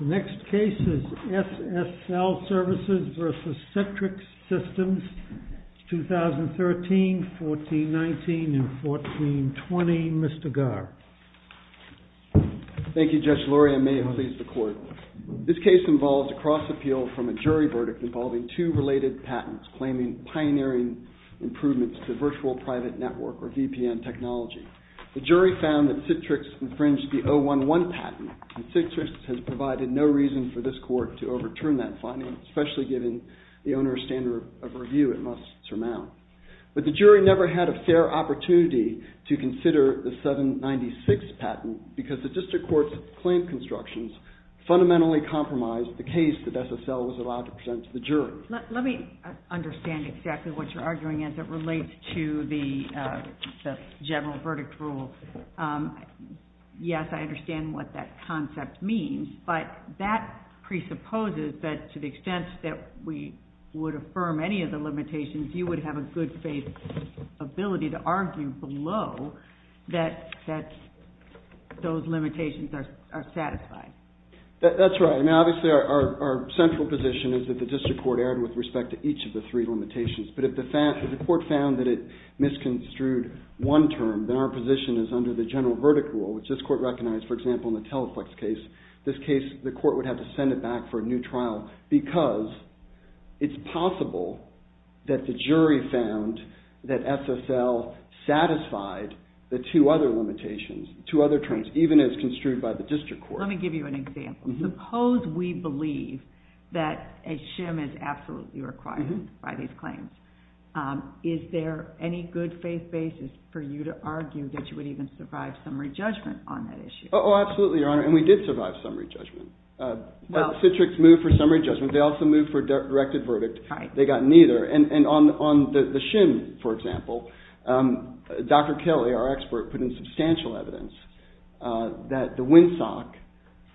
The next case is SSL Services v. Citrix Systems, 2013-14-19 and 14-20. Mr. Garr. Thank you, Judge Lurie. I may have leased the court. This case involves a cross appeal from a jury verdict involving two related patents claiming pioneering improvements to virtual private network or VPN technology. The jury found that Citrix infringed the 011 patent and Citrix has provided no reason for this court to overturn that finding, especially given the owner's standard of review it must surmount. But the jury never had a fair opportunity to consider the 796 patent because the district court's claim constructions fundamentally compromised the case that SSL was allowed to present to the jury. Let me understand exactly what you're arguing as it relates to the general verdict rule. Yes, I understand what that concept means, but that presupposes that to the extent that we would affirm any of the limitations, you would have a good faith ability to argue below that those limitations are satisfied. That's right. Obviously, our central position is that the district court erred with respect to each of the three limitations, but if the court found that it misconstrued one term, then our position is under the general verdict rule, which this court recognized. For example, in the Teleflex case, the court would have to send it back for a new trial because it's possible that the jury found that SSL satisfied the two other limitations, two other terms, even as construed by the district court. Let me give you an example. Suppose we believe that a shim is absolutely required by these claims. Is there any good faith basis for you to argue that you would even survive summary judgment on that issue? Oh, absolutely, Your Honor, and we did survive summary judgment. Citrix moved for summary judgment. They also moved for directed verdict. They got neither, and on the shim, for example, Dr. Kelly, our expert, put in substantial evidence that the WINSOC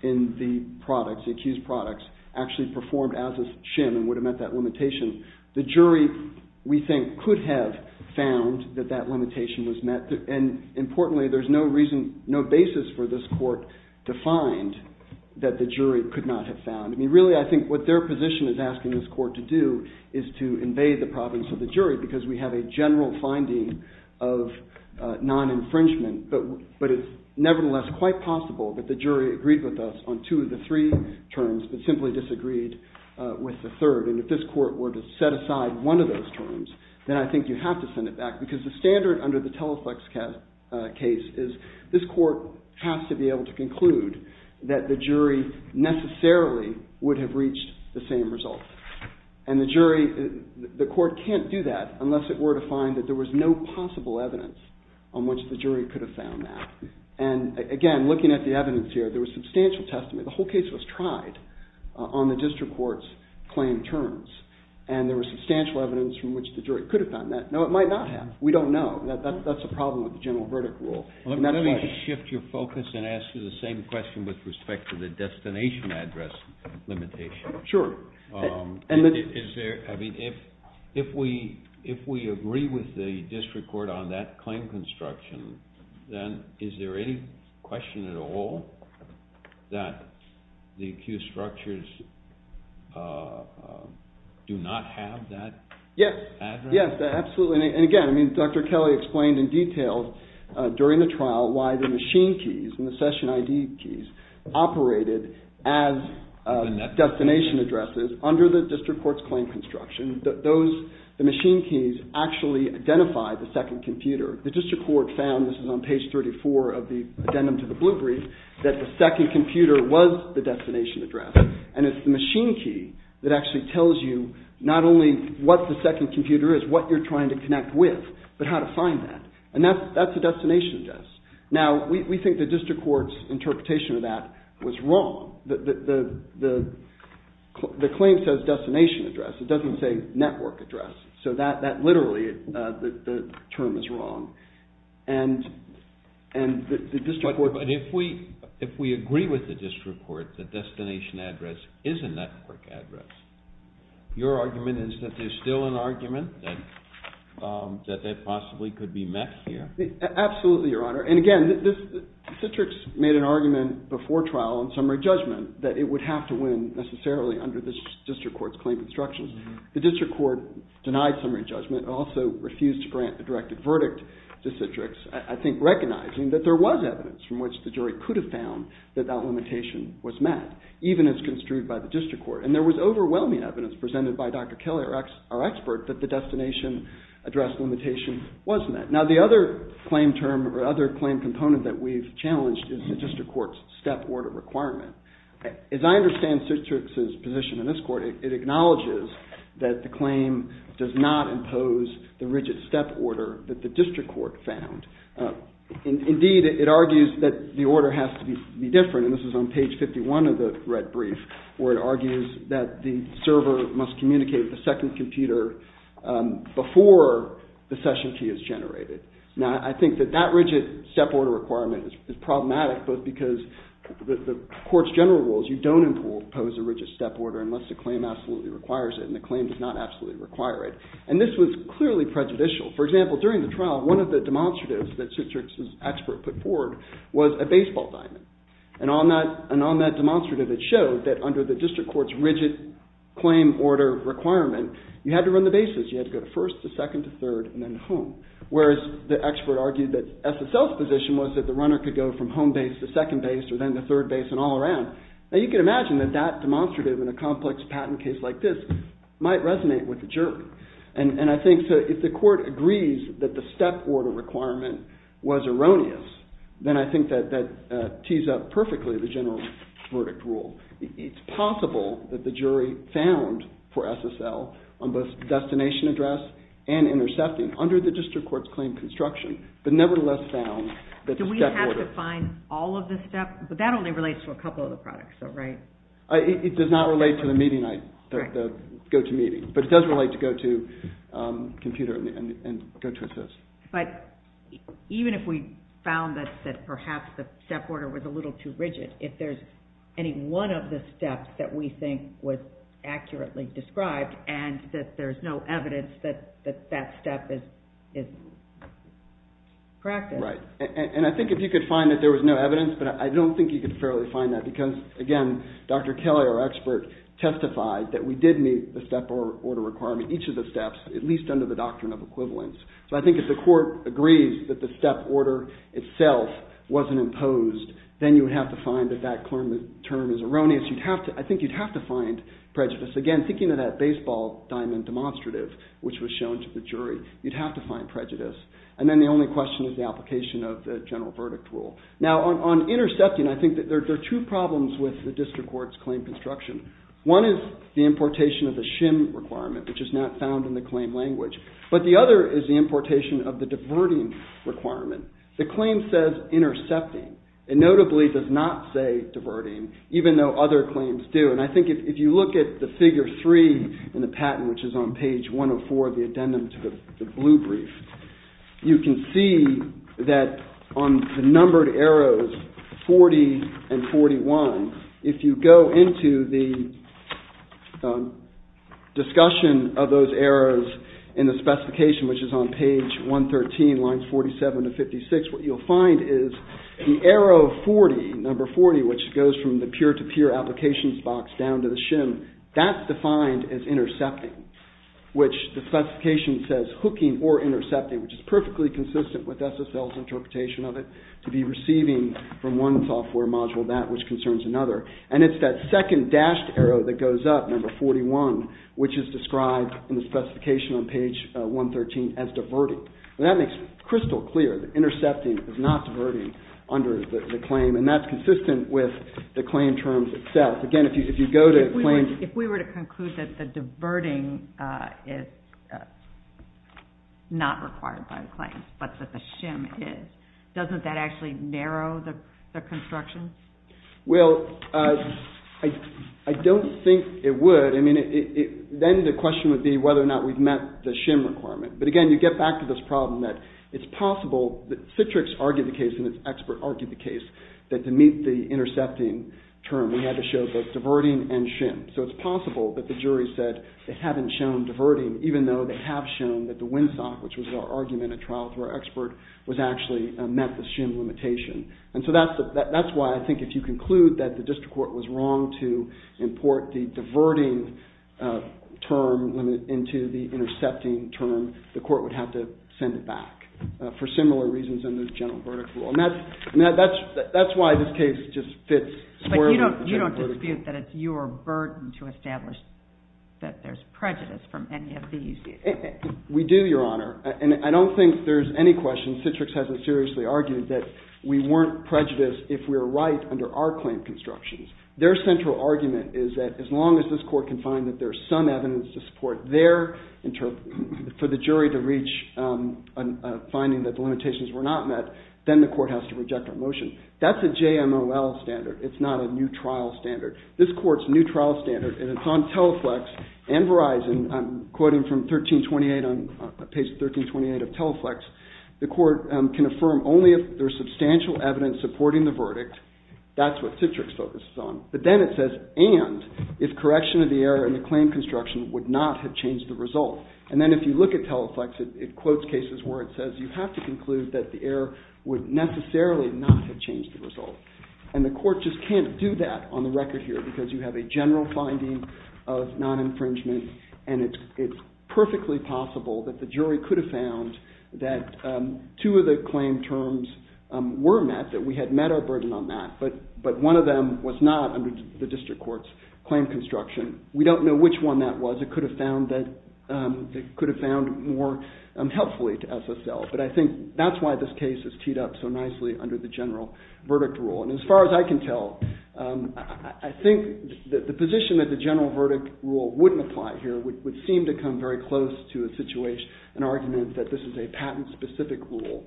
in the products, the accused products, actually performed as a shim and would have met that limitation. The jury, we think, could have found that that limitation was met, and importantly, there's no reason, no basis for this court to find that the jury could not have found. I mean, really, I think what their position is asking this court to do is to invade the province of the jury because we have a general finding of non-infringement, but it's nevertheless quite possible that the jury agreed with us on two of the three terms but simply disagreed with the third. And if this court were to set aside one of those terms, then I think you have to send it back because the standard under the Teleflex case is this court has to be able to conclude that the jury necessarily would have reached the same result. And the jury, the court can't do that unless it were to find that there was no possible evidence on which the jury could have found that. And again, looking at the evidence here, there was substantial testimony. The whole case was tried on the district court's claim terms, and there was substantial evidence from which the jury could have found that. No, it might not have. We don't know. That's a problem with the general verdict rule. And that's why— Let me shift your focus and ask you the same question with respect to the destination address limitation. Sure. If we agree with the district court on that claim construction, then is there any question at all that the accused structures do not have that address? Yes, absolutely. And again, Dr. Kelly explained in detail during the trial why the machine keys and the session ID keys operated as destination addresses under the district court's claim construction. The machine keys actually identified the second computer. The district court found—this is on page 34 of the addendum to the blue brief—that the second computer was the destination address. And it's the machine key that actually tells you not only what the second computer is, what you're trying to connect with, but how to find that. And that's a destination address. Now, we think the district court's interpretation of that was wrong. The claim says destination address. It doesn't say network address. So that literally—the term is wrong. And the district court— But if we agree with the district court that destination address is a network address, your argument is that there's still an argument that that possibly could be met here? Absolutely, Your Honor. And again, Citrix made an argument before trial in summary judgment that it would have to win necessarily under the district court's claim construction. The district court denied summary judgment and also refused to grant a directed verdict to Citrix, I think recognizing that there was evidence from which the jury could have found that that limitation was met, even as construed by the district court. And there was overwhelming evidence presented by Dr. Kelly, our expert, that the destination address limitation was met. Now, the other claim term or other claim component that we've challenged is the district court's step order requirement. As I understand Citrix's position in this court, it acknowledges that the claim does not impose the rigid step order that the district court found. Indeed, it argues that the order has to be different, and this is on page 51 of the red brief, where it argues that the server must communicate with the second computer before the session key is generated. Now, I think that that rigid step order requirement is problematic, both because the court's general rules, you don't impose a rigid step order unless the claim absolutely requires it, and the claim does not absolutely require it. And this was clearly prejudicial. For example, during the trial, one of the demonstratives that Citrix's expert put forward was a baseball diamond. And on that demonstrative, it showed that under the district court's rigid claim order requirement, you had to run the bases. You had to go to first, to second, to third, and then home. Whereas the expert argued that SSL's position was that the runner could go from home base to second base or then to third base and all around. Now, you can imagine that that demonstrative in a complex patent case like this might resonate with the jury. And I think if the court agrees that the step order requirement was erroneous, then I think that that tees up perfectly the general verdict rule. It's possible that the jury found for SSL on both destination address and intercepting under the district court's claim construction, but nevertheless found that the step order- Do we have to find all of the steps? But that only relates to a couple of the products, though, right? It does not relate to the meeting night, the go-to meeting. But it does relate to go-to computer and go-to assist. But even if we found that perhaps the step order was a little too rigid, if there's any one of the steps that we think was accurately described and that there's no evidence that that step is correct- Right. And I think if you could find that there was no evidence, but I don't think you could fairly find that because, again, Dr. Kelly, our expert, testified that we did meet the step order requirement, each of the steps, at least under the doctrine of equivalence. So I think if the court agrees that the step order itself wasn't imposed, then you would have to find that that term is erroneous. I think you'd have to find prejudice. Again, thinking of that baseball diamond demonstrative, which was shown to the jury, you'd have to find prejudice. And then the only question is the application of the general verdict rule. Now, on intercepting, I think that there are two problems with the district court's claim construction. One is the importation of the SHM requirement, which is not found in the claim language. But the other is the importation of the diverting requirement. The claim says intercepting. It notably does not say diverting, even though other claims do. And I think if you look at the figure three in the patent, which is on page 104 of the addendum to the blue brief, you can see that on the numbered arrows 40 and 41, if you go into the discussion of those arrows in the specification, which is on page 113, lines 47 to 56, what you'll find is the arrow 40, number 40, which goes from the peer-to-peer applications box down to the SHM, that's defined as intercepting, which the specification says hooking or intercepting, which is perfectly consistent with SSL's interpretation of it, to be receiving from one software module that which concerns another. And it's that second dashed arrow that goes up, number 41, which is described in the specification on page 113 as diverting. And that makes crystal clear that intercepting is not diverting under the claim, and that's consistent with the claim terms itself. Again, if you go to a claim... If we were to conclude that the diverting is not required by the claim, but that the SHM is, doesn't that actually narrow the construction? Well, I don't think it would. I mean, then the question would be whether or not we've met the SHM requirement. But again, you get back to this problem that it's possible... Citrix argued the case, and its expert argued the case, that to meet the intercepting term, we had to show both diverting and SHM. So it's possible that the jury said they haven't shown diverting, even though they have shown that the WINSOC, which was our argument at trial through our expert, was actually met the SHM limitation. And so that's why I think if you conclude that the district court was wrong to import the diverting term into the intercepting term, the court would have to send it back for similar reasons in the general verdict rule. You don't dispute that it's your burden to establish that there's prejudice from any of these? We do, Your Honor. And I don't think there's any question Citrix hasn't seriously argued that we weren't prejudiced if we were right under our claim constructions. Their central argument is that as long as this court can find that there's some evidence to support for the jury to reach a finding that the limitations were not met, then the court has to reject our motion. That's a JMOL standard. It's not a new trial standard. This court's new trial standard, and it's on Teleflex and Verizon, I'm quoting from page 1328 of Teleflex, the court can affirm only if there's substantial evidence supporting the verdict. That's what Citrix focuses on. But then it says, and if correction of the error in the claim construction would not have changed the result. And then if you look at Teleflex, it quotes cases where it says you have to conclude that the error would necessarily not have changed the result. And the court just can't do that on the record here because you have a general finding of non-infringement and it's perfectly possible that the jury could have found that two of the claim terms were met, that we had met our burden on that, but one of them was not under the district court's claim construction. We don't know which one that was. It could have found more helpfully to SSL. But I think that's why this case is teed up so nicely under the general verdict rule. And as far as I can tell, I think that the position that the general verdict rule wouldn't apply here would seem to come very close to an argument that this is a patent-specific rule.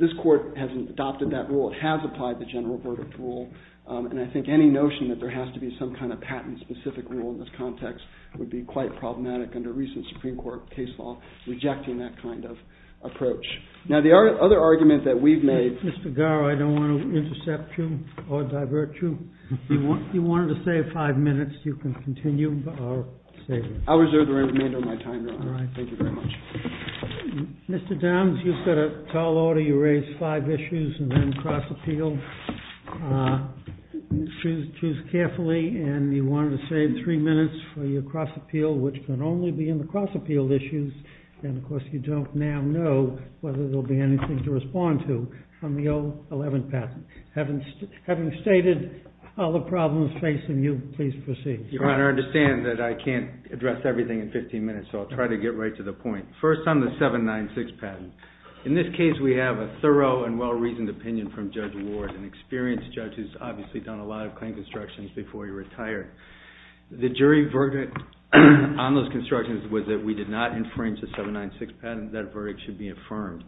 This court hasn't adopted that rule. It has applied the general verdict rule, and I think any notion that there has to be some kind of patent-specific rule in this context would be quite problematic under recent Supreme Court case law rejecting that kind of approach. Now, the other argument that we've made... Mr. Garrow, I don't want to intercept you or divert you. If you wanted to save five minutes, you can continue or save it. I'll reserve the remainder of my time, Your Honor. Thank you very much. Mr. Downs, you set a tall order. You raised five issues and then cross-appealed. Choose carefully. And you wanted to save three minutes for your cross-appeal, which can only be in the cross-appeal issues. And, of course, you don't now know whether there will be anything to respond to on the 011 patent. Having stated all the problems facing you, please proceed. Your Honor, I understand that I can't address everything in 15 minutes, so I'll try to get right to the point. First on the 796 patent. In this case, we have a thorough and well-reasoned opinion from Judge Ward, an experienced judge who's obviously done a lot of claim constructions before he retired. The jury verdict on those constructions was that we did not infringe the 796 patent. That verdict should be affirmed.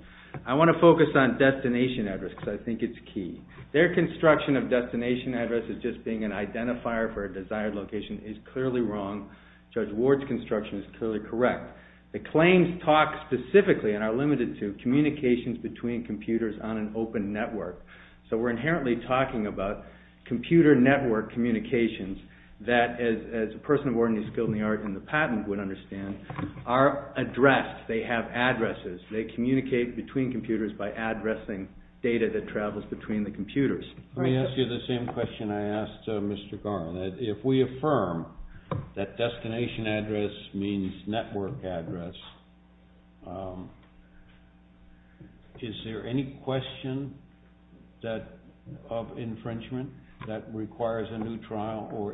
I want to focus on destination address because I think it's key. Their construction of destination address as just being an identifier for a desired location is clearly wrong. Judge Ward's construction is clearly correct. The claims talk specifically and are limited to communications between computers on an open network. So we're inherently talking about computer network communications that, as a person of ordinary skill in the art in the patent would understand, are addressed. They have addresses. They communicate between computers by addressing data that travels between the computers. Let me ask you the same question I asked Mr. Garan. If we affirm that destination address means network address, is there any question of infringement that requires a new trial or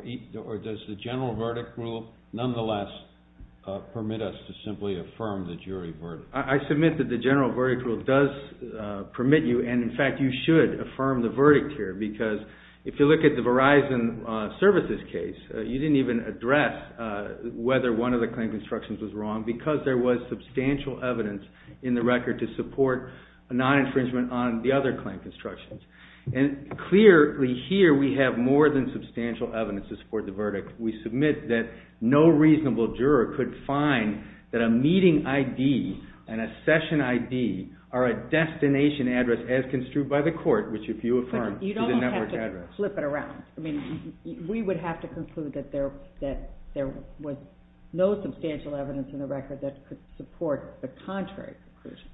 does the general verdict rule nonetheless permit us to simply affirm the jury verdict? I submit that the general verdict rule does permit you, and in fact you should affirm the verdict here because if you look at the Verizon Services case, you didn't even address whether one of the claim constructions was wrong because there was substantial evidence in the record to support a non-infringement on the other claim constructions. Clearly here we have more than substantial evidence to support the verdict. We submit that no reasonable juror could find that a meeting ID and a session ID are a destination address as construed by the court, which if you affirm is a network address. You don't have to flip it around. We would have to conclude that there was no substantial evidence in the record that could support the contrary conclusion.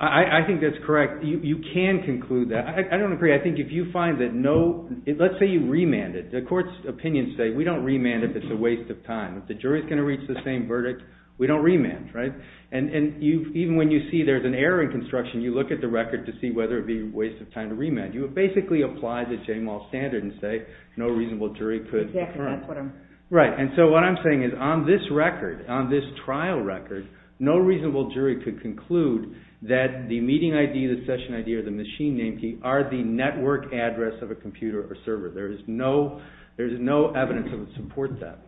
I think that's correct. You can conclude that. I don't agree. I think if you find that no, let's say you remand it. The court's opinions say we don't remand if it's a waste of time. If the jury is going to reach the same verdict, we don't remand, right? And even when you see there's an error in construction, you look at the record to see whether it would be a waste of time to remand. You would basically apply the Jamal standard and say no reasonable jury could. Exactly, that's what I'm saying. Right, and so what I'm saying is on this record, on this trial record, no reasonable jury could conclude that the meeting ID, the session ID, or the machine name key are the network address of a computer or server. There is no evidence that would support that.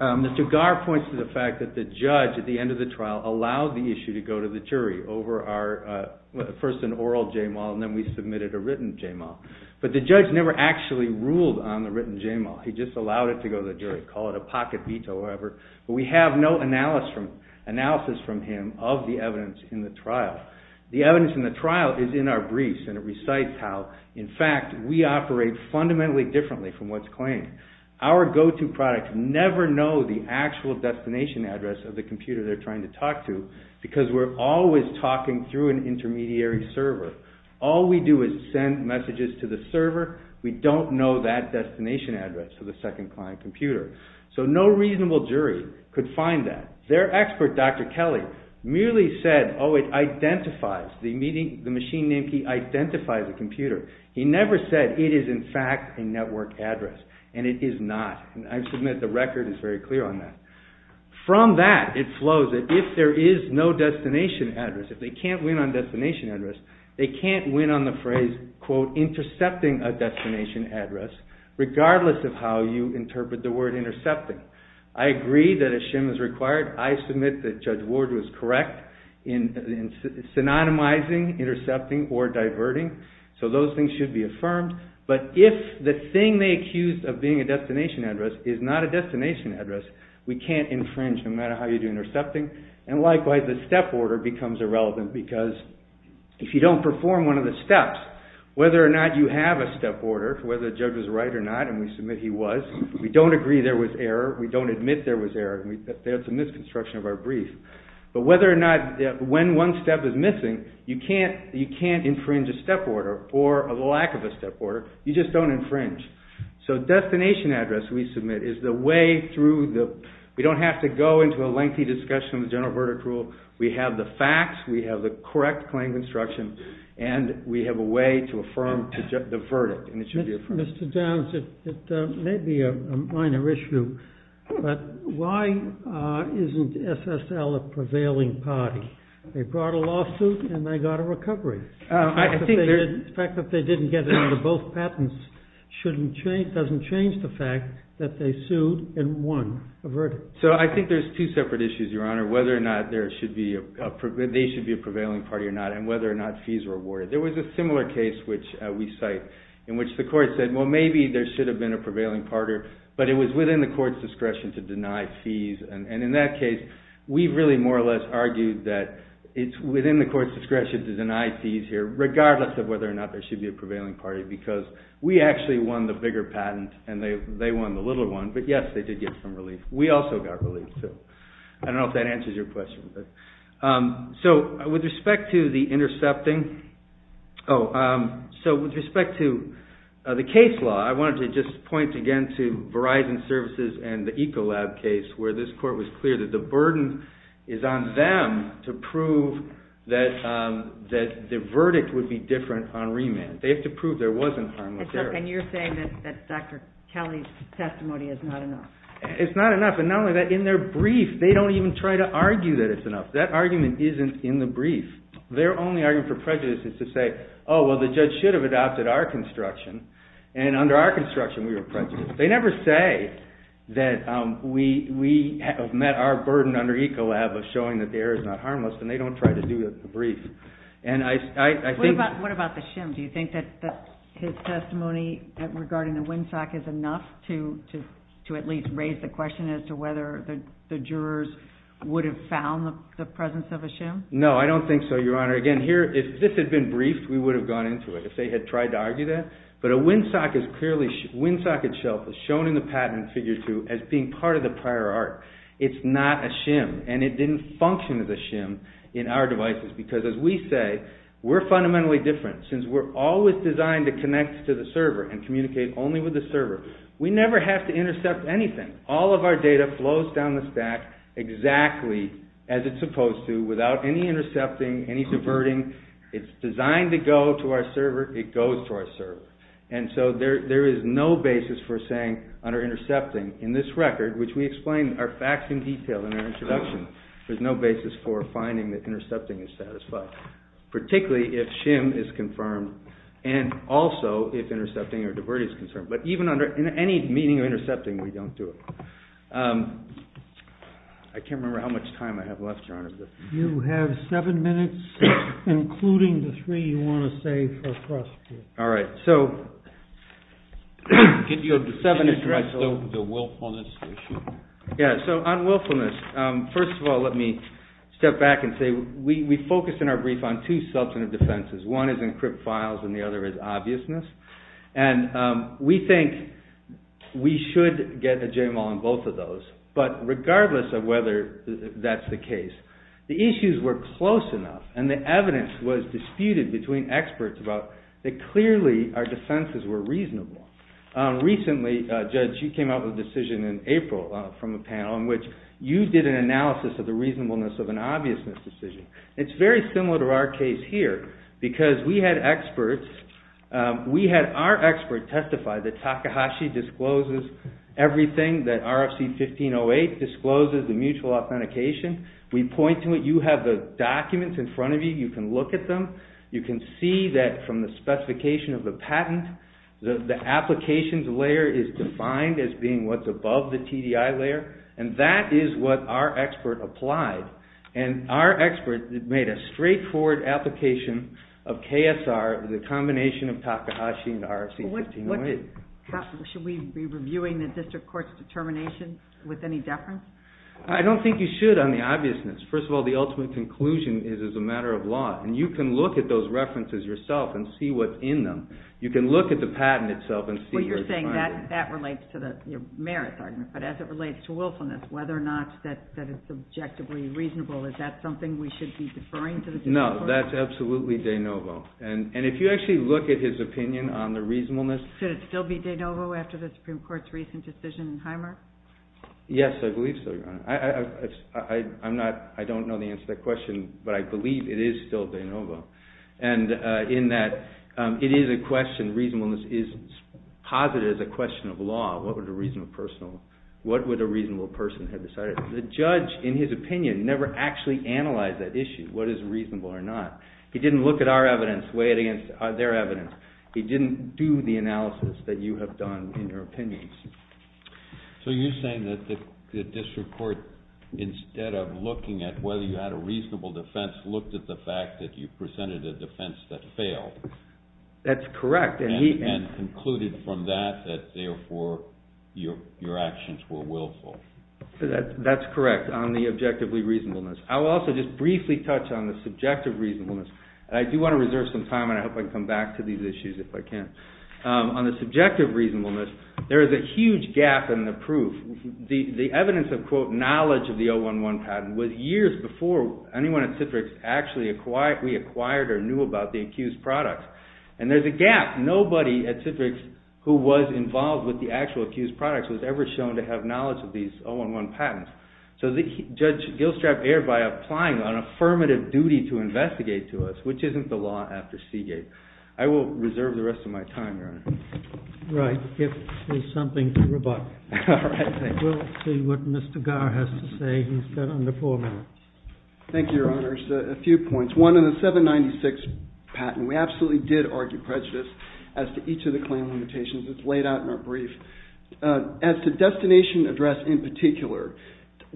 Mr. Garr points to the fact that the judge at the end of the trial allowed the issue to go to the jury over our first an oral Jamal and then we submitted a written Jamal. But the judge never actually ruled on the written Jamal. He just allowed it to go to the jury, call it a pocket veto or whatever. But we have no analysis from him of the evidence in the trial. The evidence in the trial is in our briefs and it recites how, in fact, we operate fundamentally differently from what's claimed. Our go-to products never know the actual destination address of the computer they're trying to talk to because we're always talking through an intermediary server. All we do is send messages to the server. We don't know that destination address of the second client computer. So no reasonable jury could find that. Their expert, Dr. Kelly, merely said, oh, it identifies, the machine name key identifies the computer. He never said it is, in fact, a network address. And it is not. I submit the record is very clear on that. From that it flows that if there is no destination address, if they can't win on destination address, they can't win on the phrase, quote, intercepting a destination address, regardless of how you interpret the word intercepting. I agree that a shim is required. I submit that Judge Ward was correct in synonymizing, intercepting or diverting. So those things should be affirmed. But if the thing they accused of being a destination address is not a destination address, we can't infringe no matter how you do intercepting. And likewise, the step order becomes irrelevant because if you don't perform one of the steps, whether or not you have a step order, whether the judge was right or not, and we submit he was, we don't agree there was error, we don't admit there was error. That's a misconstruction of our brief. But whether or not, when one step is missing, you can't infringe a step order or the lack of a step order. You just don't infringe. So destination address we submit is the way through the, we don't have to go into a lengthy discussion of the general verdict rule. We have the facts, we have the correct claim construction, and we have a way to affirm the verdict. And it should be affirmed. Mr. Downs, it may be a minor issue, but why isn't SSL a prevailing party? They brought a lawsuit and they got a recovery. The fact that they didn't get it under both patents doesn't change the fact that they sued and won a verdict. So I think there's two separate issues, Your Honor, whether or not they should be a prevailing party or not and whether or not fees were awarded. There was a similar case, which we cite, in which the court said, well, maybe there should have been a prevailing party, but it was within the court's discretion to deny fees. And in that case, we really more or less argued that it's within the court's discretion to deny fees here, regardless of whether or not there should be a prevailing party because we actually won the bigger patent and they won the little one. But yes, they did get some relief. We also got relief, too. I don't know if that answers your question. So with respect to the intercepting... Oh, so with respect to the case law, I wanted to just point again to Verizon Services and the Ecolab case, where this court was clear that the burden is on them to prove that the verdict would be different on remand. They have to prove there wasn't harmless error. And you're saying that Dr. Kelly's testimony is not enough. It's not enough. And not only that, in their brief, they don't even try to argue that it's enough. That argument isn't in the brief. Their only argument for prejudice is to say, oh, well, the judge should have adopted our construction, and under our construction, we were prejudiced. They never say that we have met our burden under Ecolab of showing that the error is not harmless, and they don't try to do that in the brief. What about the shim? Do you think that his testimony regarding the windsock is enough to at least raise the question as to whether the jurors would have found the presence of a shim? No, I don't think so, Your Honor. Again, if this had been briefed, we would have gone into it, if they had tried to argue that. But a windsock itself is shown in the patent in Figure 2 as being part of the prior art. It's not a shim, and it didn't function as a shim in our devices because, as we say, we're fundamentally different. Since we're always designed to connect to the server and communicate only with the server, we never have to intercept anything. All of our data flows down the stack exactly as it's supposed to, without any intercepting, any diverting. It's designed to go to our server. It goes to our server. And so there is no basis for saying, under intercepting, in this record, which we explain our facts in detail in our introduction, there's no basis for finding that intercepting is satisfied, particularly if shim is confirmed, and also if intercepting or diverting is confirmed. But even under any meaning of intercepting, we don't do it. I can't remember how much time I have left, Your Honor. You have seven minutes, including the three you want to save for frustration. All right, so... Can I start with the willfulness issue? Yeah, so on willfulness, first of all, let me step back and say, we focus in our brief on two substantive defenses. One is encrypt files, and the other is obviousness. And we think we should get a JMOL on both of those. But regardless of whether that's the case, the issues were close enough, and the evidence was disputed between experts about that clearly our defenses were reasonable. Recently, Judge, you came out with a decision in April from a panel in which you did an analysis of the reasonableness of an obviousness decision. It's very similar to our case here, because we had experts testify that Takahashi discloses everything, that RFC 1508 discloses the mutual authentication. We point to it. You have the documents in front of you. You can look at them. You can see that from the specification of the patent, the applications layer is defined as being what's above the TDI layer, and that is what our expert applied. And our expert made a straightforward application of KSR, the combination of Takahashi and RFC 1508. Should we be reviewing the district court's determination with any deference? I don't think you should on the obviousness. First of all, the ultimate conclusion is it's a matter of law, and you can look at those references yourself and see what's in them. You can look at the patent itself and see where it's finding. That relates to the merits argument, but as it relates to willfulness, whether or not that is subjectively reasonable, is that something we should be deferring to the district court? No, that's absolutely de novo. And if you actually look at his opinion on the reasonableness... Should it still be de novo after the Supreme Court's recent decision in Hymer? Yes, I believe so, Your Honor. I don't know the answer to that question, but I believe it is still de novo, in that it is a question, reasonableness is posited as a question of law. What would a reasonable person have decided? The judge, in his opinion, never actually analyzed that issue, what is reasonable or not. He didn't look at our evidence, weigh it against their evidence. He didn't do the analysis that you have done in your opinions. So you're saying that the district court, instead of looking at whether you had a reasonable defense, looked at the fact that you presented a defense that failed. That's correct. And concluded from that that, therefore, your actions were willful. That's correct, on the objectively reasonableness. I will also just briefly touch on the subjective reasonableness. I do want to reserve some time, and I hope I can come back to these issues if I can. On the subjective reasonableness, there is a huge gap in the proof. The evidence of, quote, knowledge of the 011 patent was years before anyone at Citrix actually acquired or knew about the accused products. And there's a gap. Nobody at Citrix who was involved with the actual accused products was ever shown to have knowledge of these 011 patents. So Judge Gilstrap erred by applying an affirmative duty to investigate to us, which isn't the law after Seagate. I will reserve the rest of my time, Your Honor. Right, if there's something to rebut. We'll see what Mr. Garr has to say. He's got under four minutes. Thank you, Your Honors. A few points. One, in the 796 patent, we absolutely did argue prejudice as to each of the claim limitations. It's laid out in our brief. As to destination address in particular,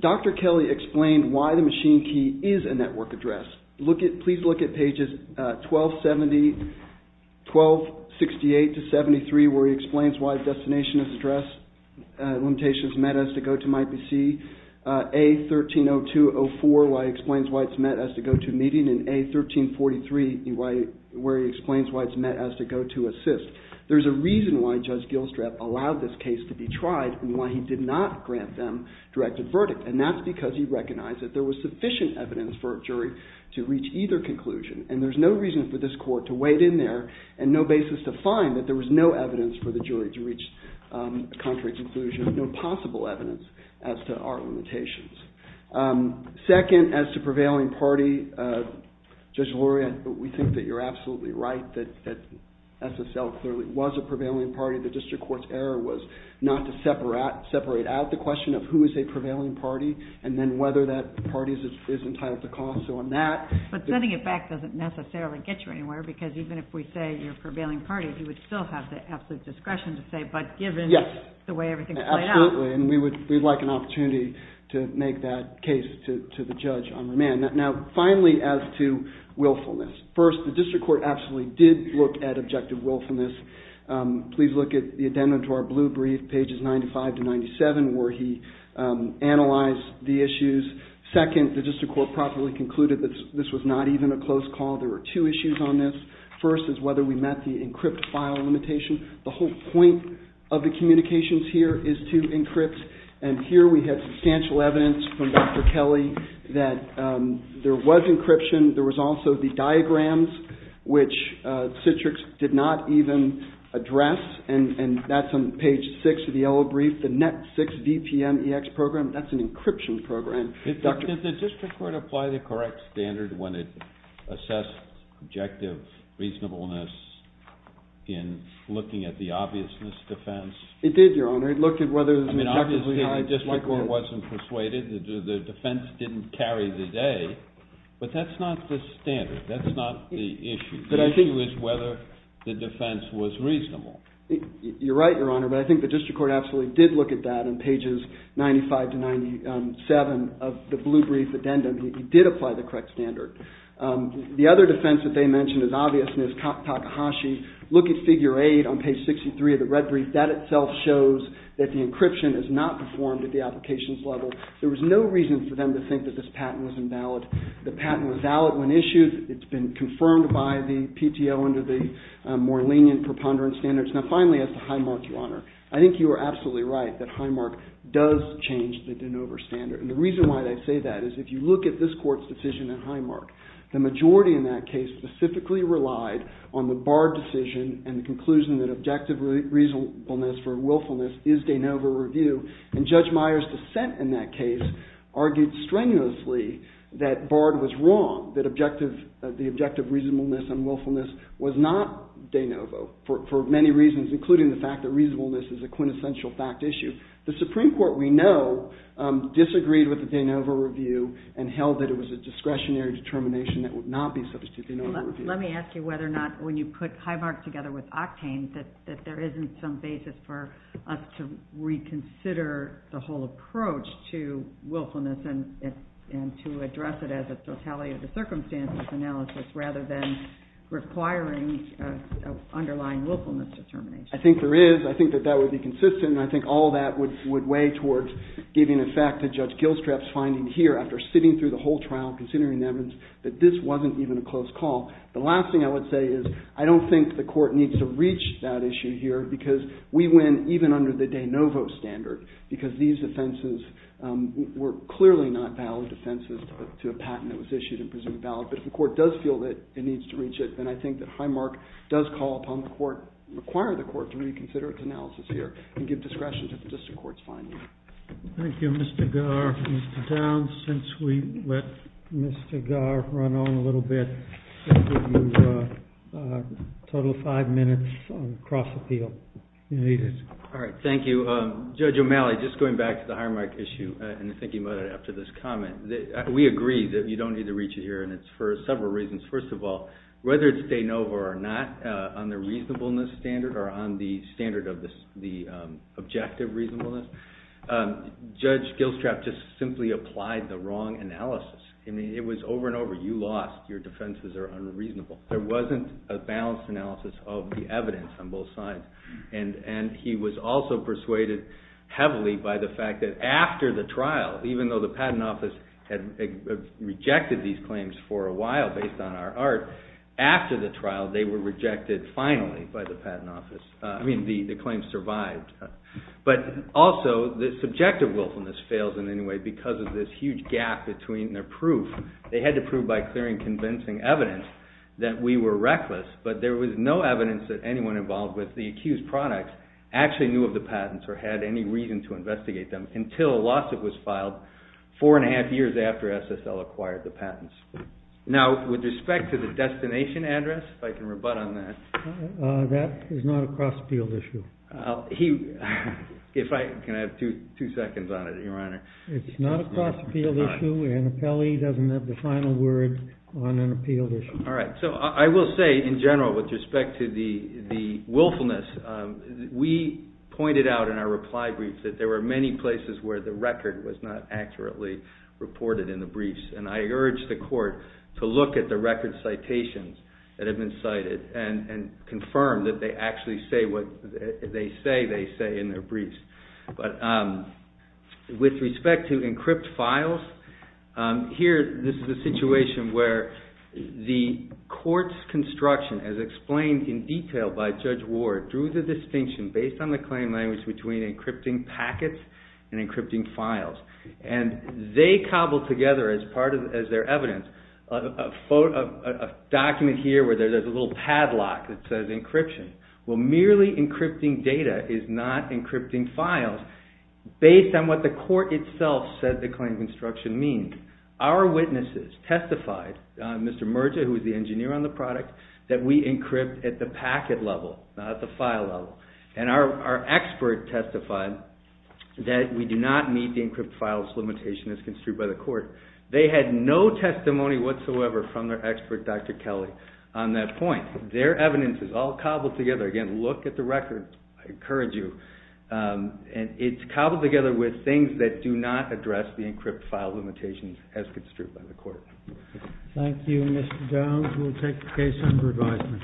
Dr. Kelly explained why the machine key is a network address. Please look at pages 1268 to 73, where he explains why the destination address limitations is met as to go to my PC. A130204, where he explains why it's met as to go to meeting. And A1343, where he explains why it's met as to go to assist. There's a reason why Judge Gilstrap allowed this case to be tried and why he did not grant them directed verdict. And that's because he recognized that there was sufficient evidence for a jury to reach either conclusion. And there's no reason for this court to wait in there and no basis to find that there was no evidence for the jury to reach a contrary conclusion. No possible evidence as to our limitations. Second, as to prevailing party, Judge Lori, we think that you're absolutely right, that SSL clearly was a prevailing party. The district court's error was not to separate out the question of who is a prevailing party and then whether that party is entitled to cost. So on that... But sending it back doesn't necessarily get you anywhere because even if we say you're a prevailing party, you would still have the absolute discretion to say, but given the way everything's played out. Absolutely, and we'd like an opportunity to make that case to the judge on remand. Now, finally, as to willfulness. First, the district court absolutely did look at objective willfulness. Please look at the addendum to our blue brief, pages 95 to 97, where he analyzed the issues. Second, the district court properly concluded that this was not even a close call. There were two issues on this. First is whether we met the encrypt file limitation. The whole point of the communications here is to encrypt, and here we have substantial evidence from Dr. Kelly that there was encryption. There was also the diagrams, which Citrix did not even address, and that's on page 6 of the yellow brief. The net 6 VPN EX program, that's an encryption program. Did the district court apply the correct standard when it assessed objective reasonableness in looking at the obviousness defense? It did, Your Honor. It looked at whether there was an objective... I mean, obviously the district court wasn't persuaded. The defense didn't carry the day, but that's not the standard. That's not the issue. The issue is whether the defense was reasonable. You're right, Your Honor, but I think the district court absolutely did look at that in pages 95 to 97 of the blue brief addendum. It did apply the correct standard. The other defense that they mentioned as obviousness, Takahashi, look at figure 8 on page 63 of the red brief. That itself shows that the encryption is not performed at the applications level. There was no reason for them to think that this patent was invalid. The patent was valid when issued. It's been confirmed by the PTO under the more lenient preponderance standards. Now, finally, as to Highmark, Your Honor, I think you are absolutely right that Highmark does change the de novo standard, and the reason why I say that is if you look at this court's decision at Highmark, the majority in that case specifically relied on the Bard decision and the conclusion that objective reasonableness for willfulness is de novo review, and Judge Meyer's dissent in that case argued strenuously that Bard was wrong, that the objective reasonableness and willfulness was not de novo for many reasons, including the fact that reasonableness is a quintessential fact issue. The Supreme Court, we know, disagreed with the de novo review and held that it was a discretionary determination that would not be substitute de novo review. Let me ask you whether or not when you put Highmark together with Octane that there isn't some basis for us to reconsider the whole approach to willfulness and to address it as a totality of the circumstances analysis rather than requiring underlying willfulness determination. I think there is. I think that that would be consistent and I think all that would weigh towards giving effect to Judge Gilstrap's finding here after sitting through the whole trial considering the evidence that this wasn't even a close call. The last thing I would say is I don't think the Court needs to reach that issue here because we win even under the de novo standard because these offenses were clearly not valid offenses to a patent that was issued and presumed valid, but if the Court does feel that it needs to reach it then I think that Highmark does call upon the Court, require the Court to reconsider its analysis here and give discretion to the District Court's finding. Thank you Mr. Garr. Mr. Downs, since we let Mr. Garr run on a little bit we'll give you a total of five minutes on cross appeal. Thank you. Judge O'Malley, just going back to the Highmark issue and thinking about it after this comment, we agree that you don't need to reach it here and it's for several reasons. First of all, whether it's de novo or not on the reasonableness standard or on the standard of the objective reasonableness, Judge Gilstrap just simply applied the wrong analysis. It was over and over. You lost. Your defenses are unreasonable. There wasn't a balanced analysis of the evidence on both sides and he was also persuaded heavily by the fact that after the trial even though the Patent Office had rejected these claims for a while based on our art, after the trial they were rejected finally by the Patent Office. I mean, the claims survived. But also, the subjective willfulness fails in any way because of this huge gap between their proof. They had to prove by clearing convincing evidence that we were reckless but there was no evidence that anyone involved with the accused products actually knew of the patents or had any reason to investigate them until a lawsuit was after SSL acquired the patents. Now, with respect to the destination address, if I can rebut on that. That is not a cross appeal issue. Can I have two seconds on it, Your Honor? It's not a cross appeal issue. Annapelle doesn't have the final word on an appeal issue. Alright, so I will say in general with respect to the willfulness, we pointed out in our reply brief that there were many places where the record was not accurately reported in the briefs. And I urge the Court to look at the record citations that have been cited and confirm that they actually say what they say they say in their briefs. But with respect to encrypt files, here, this is a situation where the Court's construction as explained in detail by Judge Ward drew the distinction based on the claim language between encrypting packets and encrypting files. And they cobbled together, as part of their evidence, a document here where there's a little padlock that says encryption. Well, merely encrypting data is not encrypting files based on what the Court itself said the claim construction means. Our witnesses testified, Mr. Murta, who is the engineer on the product, that we encrypt at the packet level, not at the file level. And our witnesses testified that we do not meet the encrypt files limitation as construed by the Court. They had no testimony whatsoever from their expert, Dr. Kelly, on that point. Their evidence is all cobbled together. Again, look at the record. I encourage you. And it's cobbled together with things that do not address the encrypt file limitations as construed by the Court. Thank you, Mr. Jones. We'll take the case under advisement.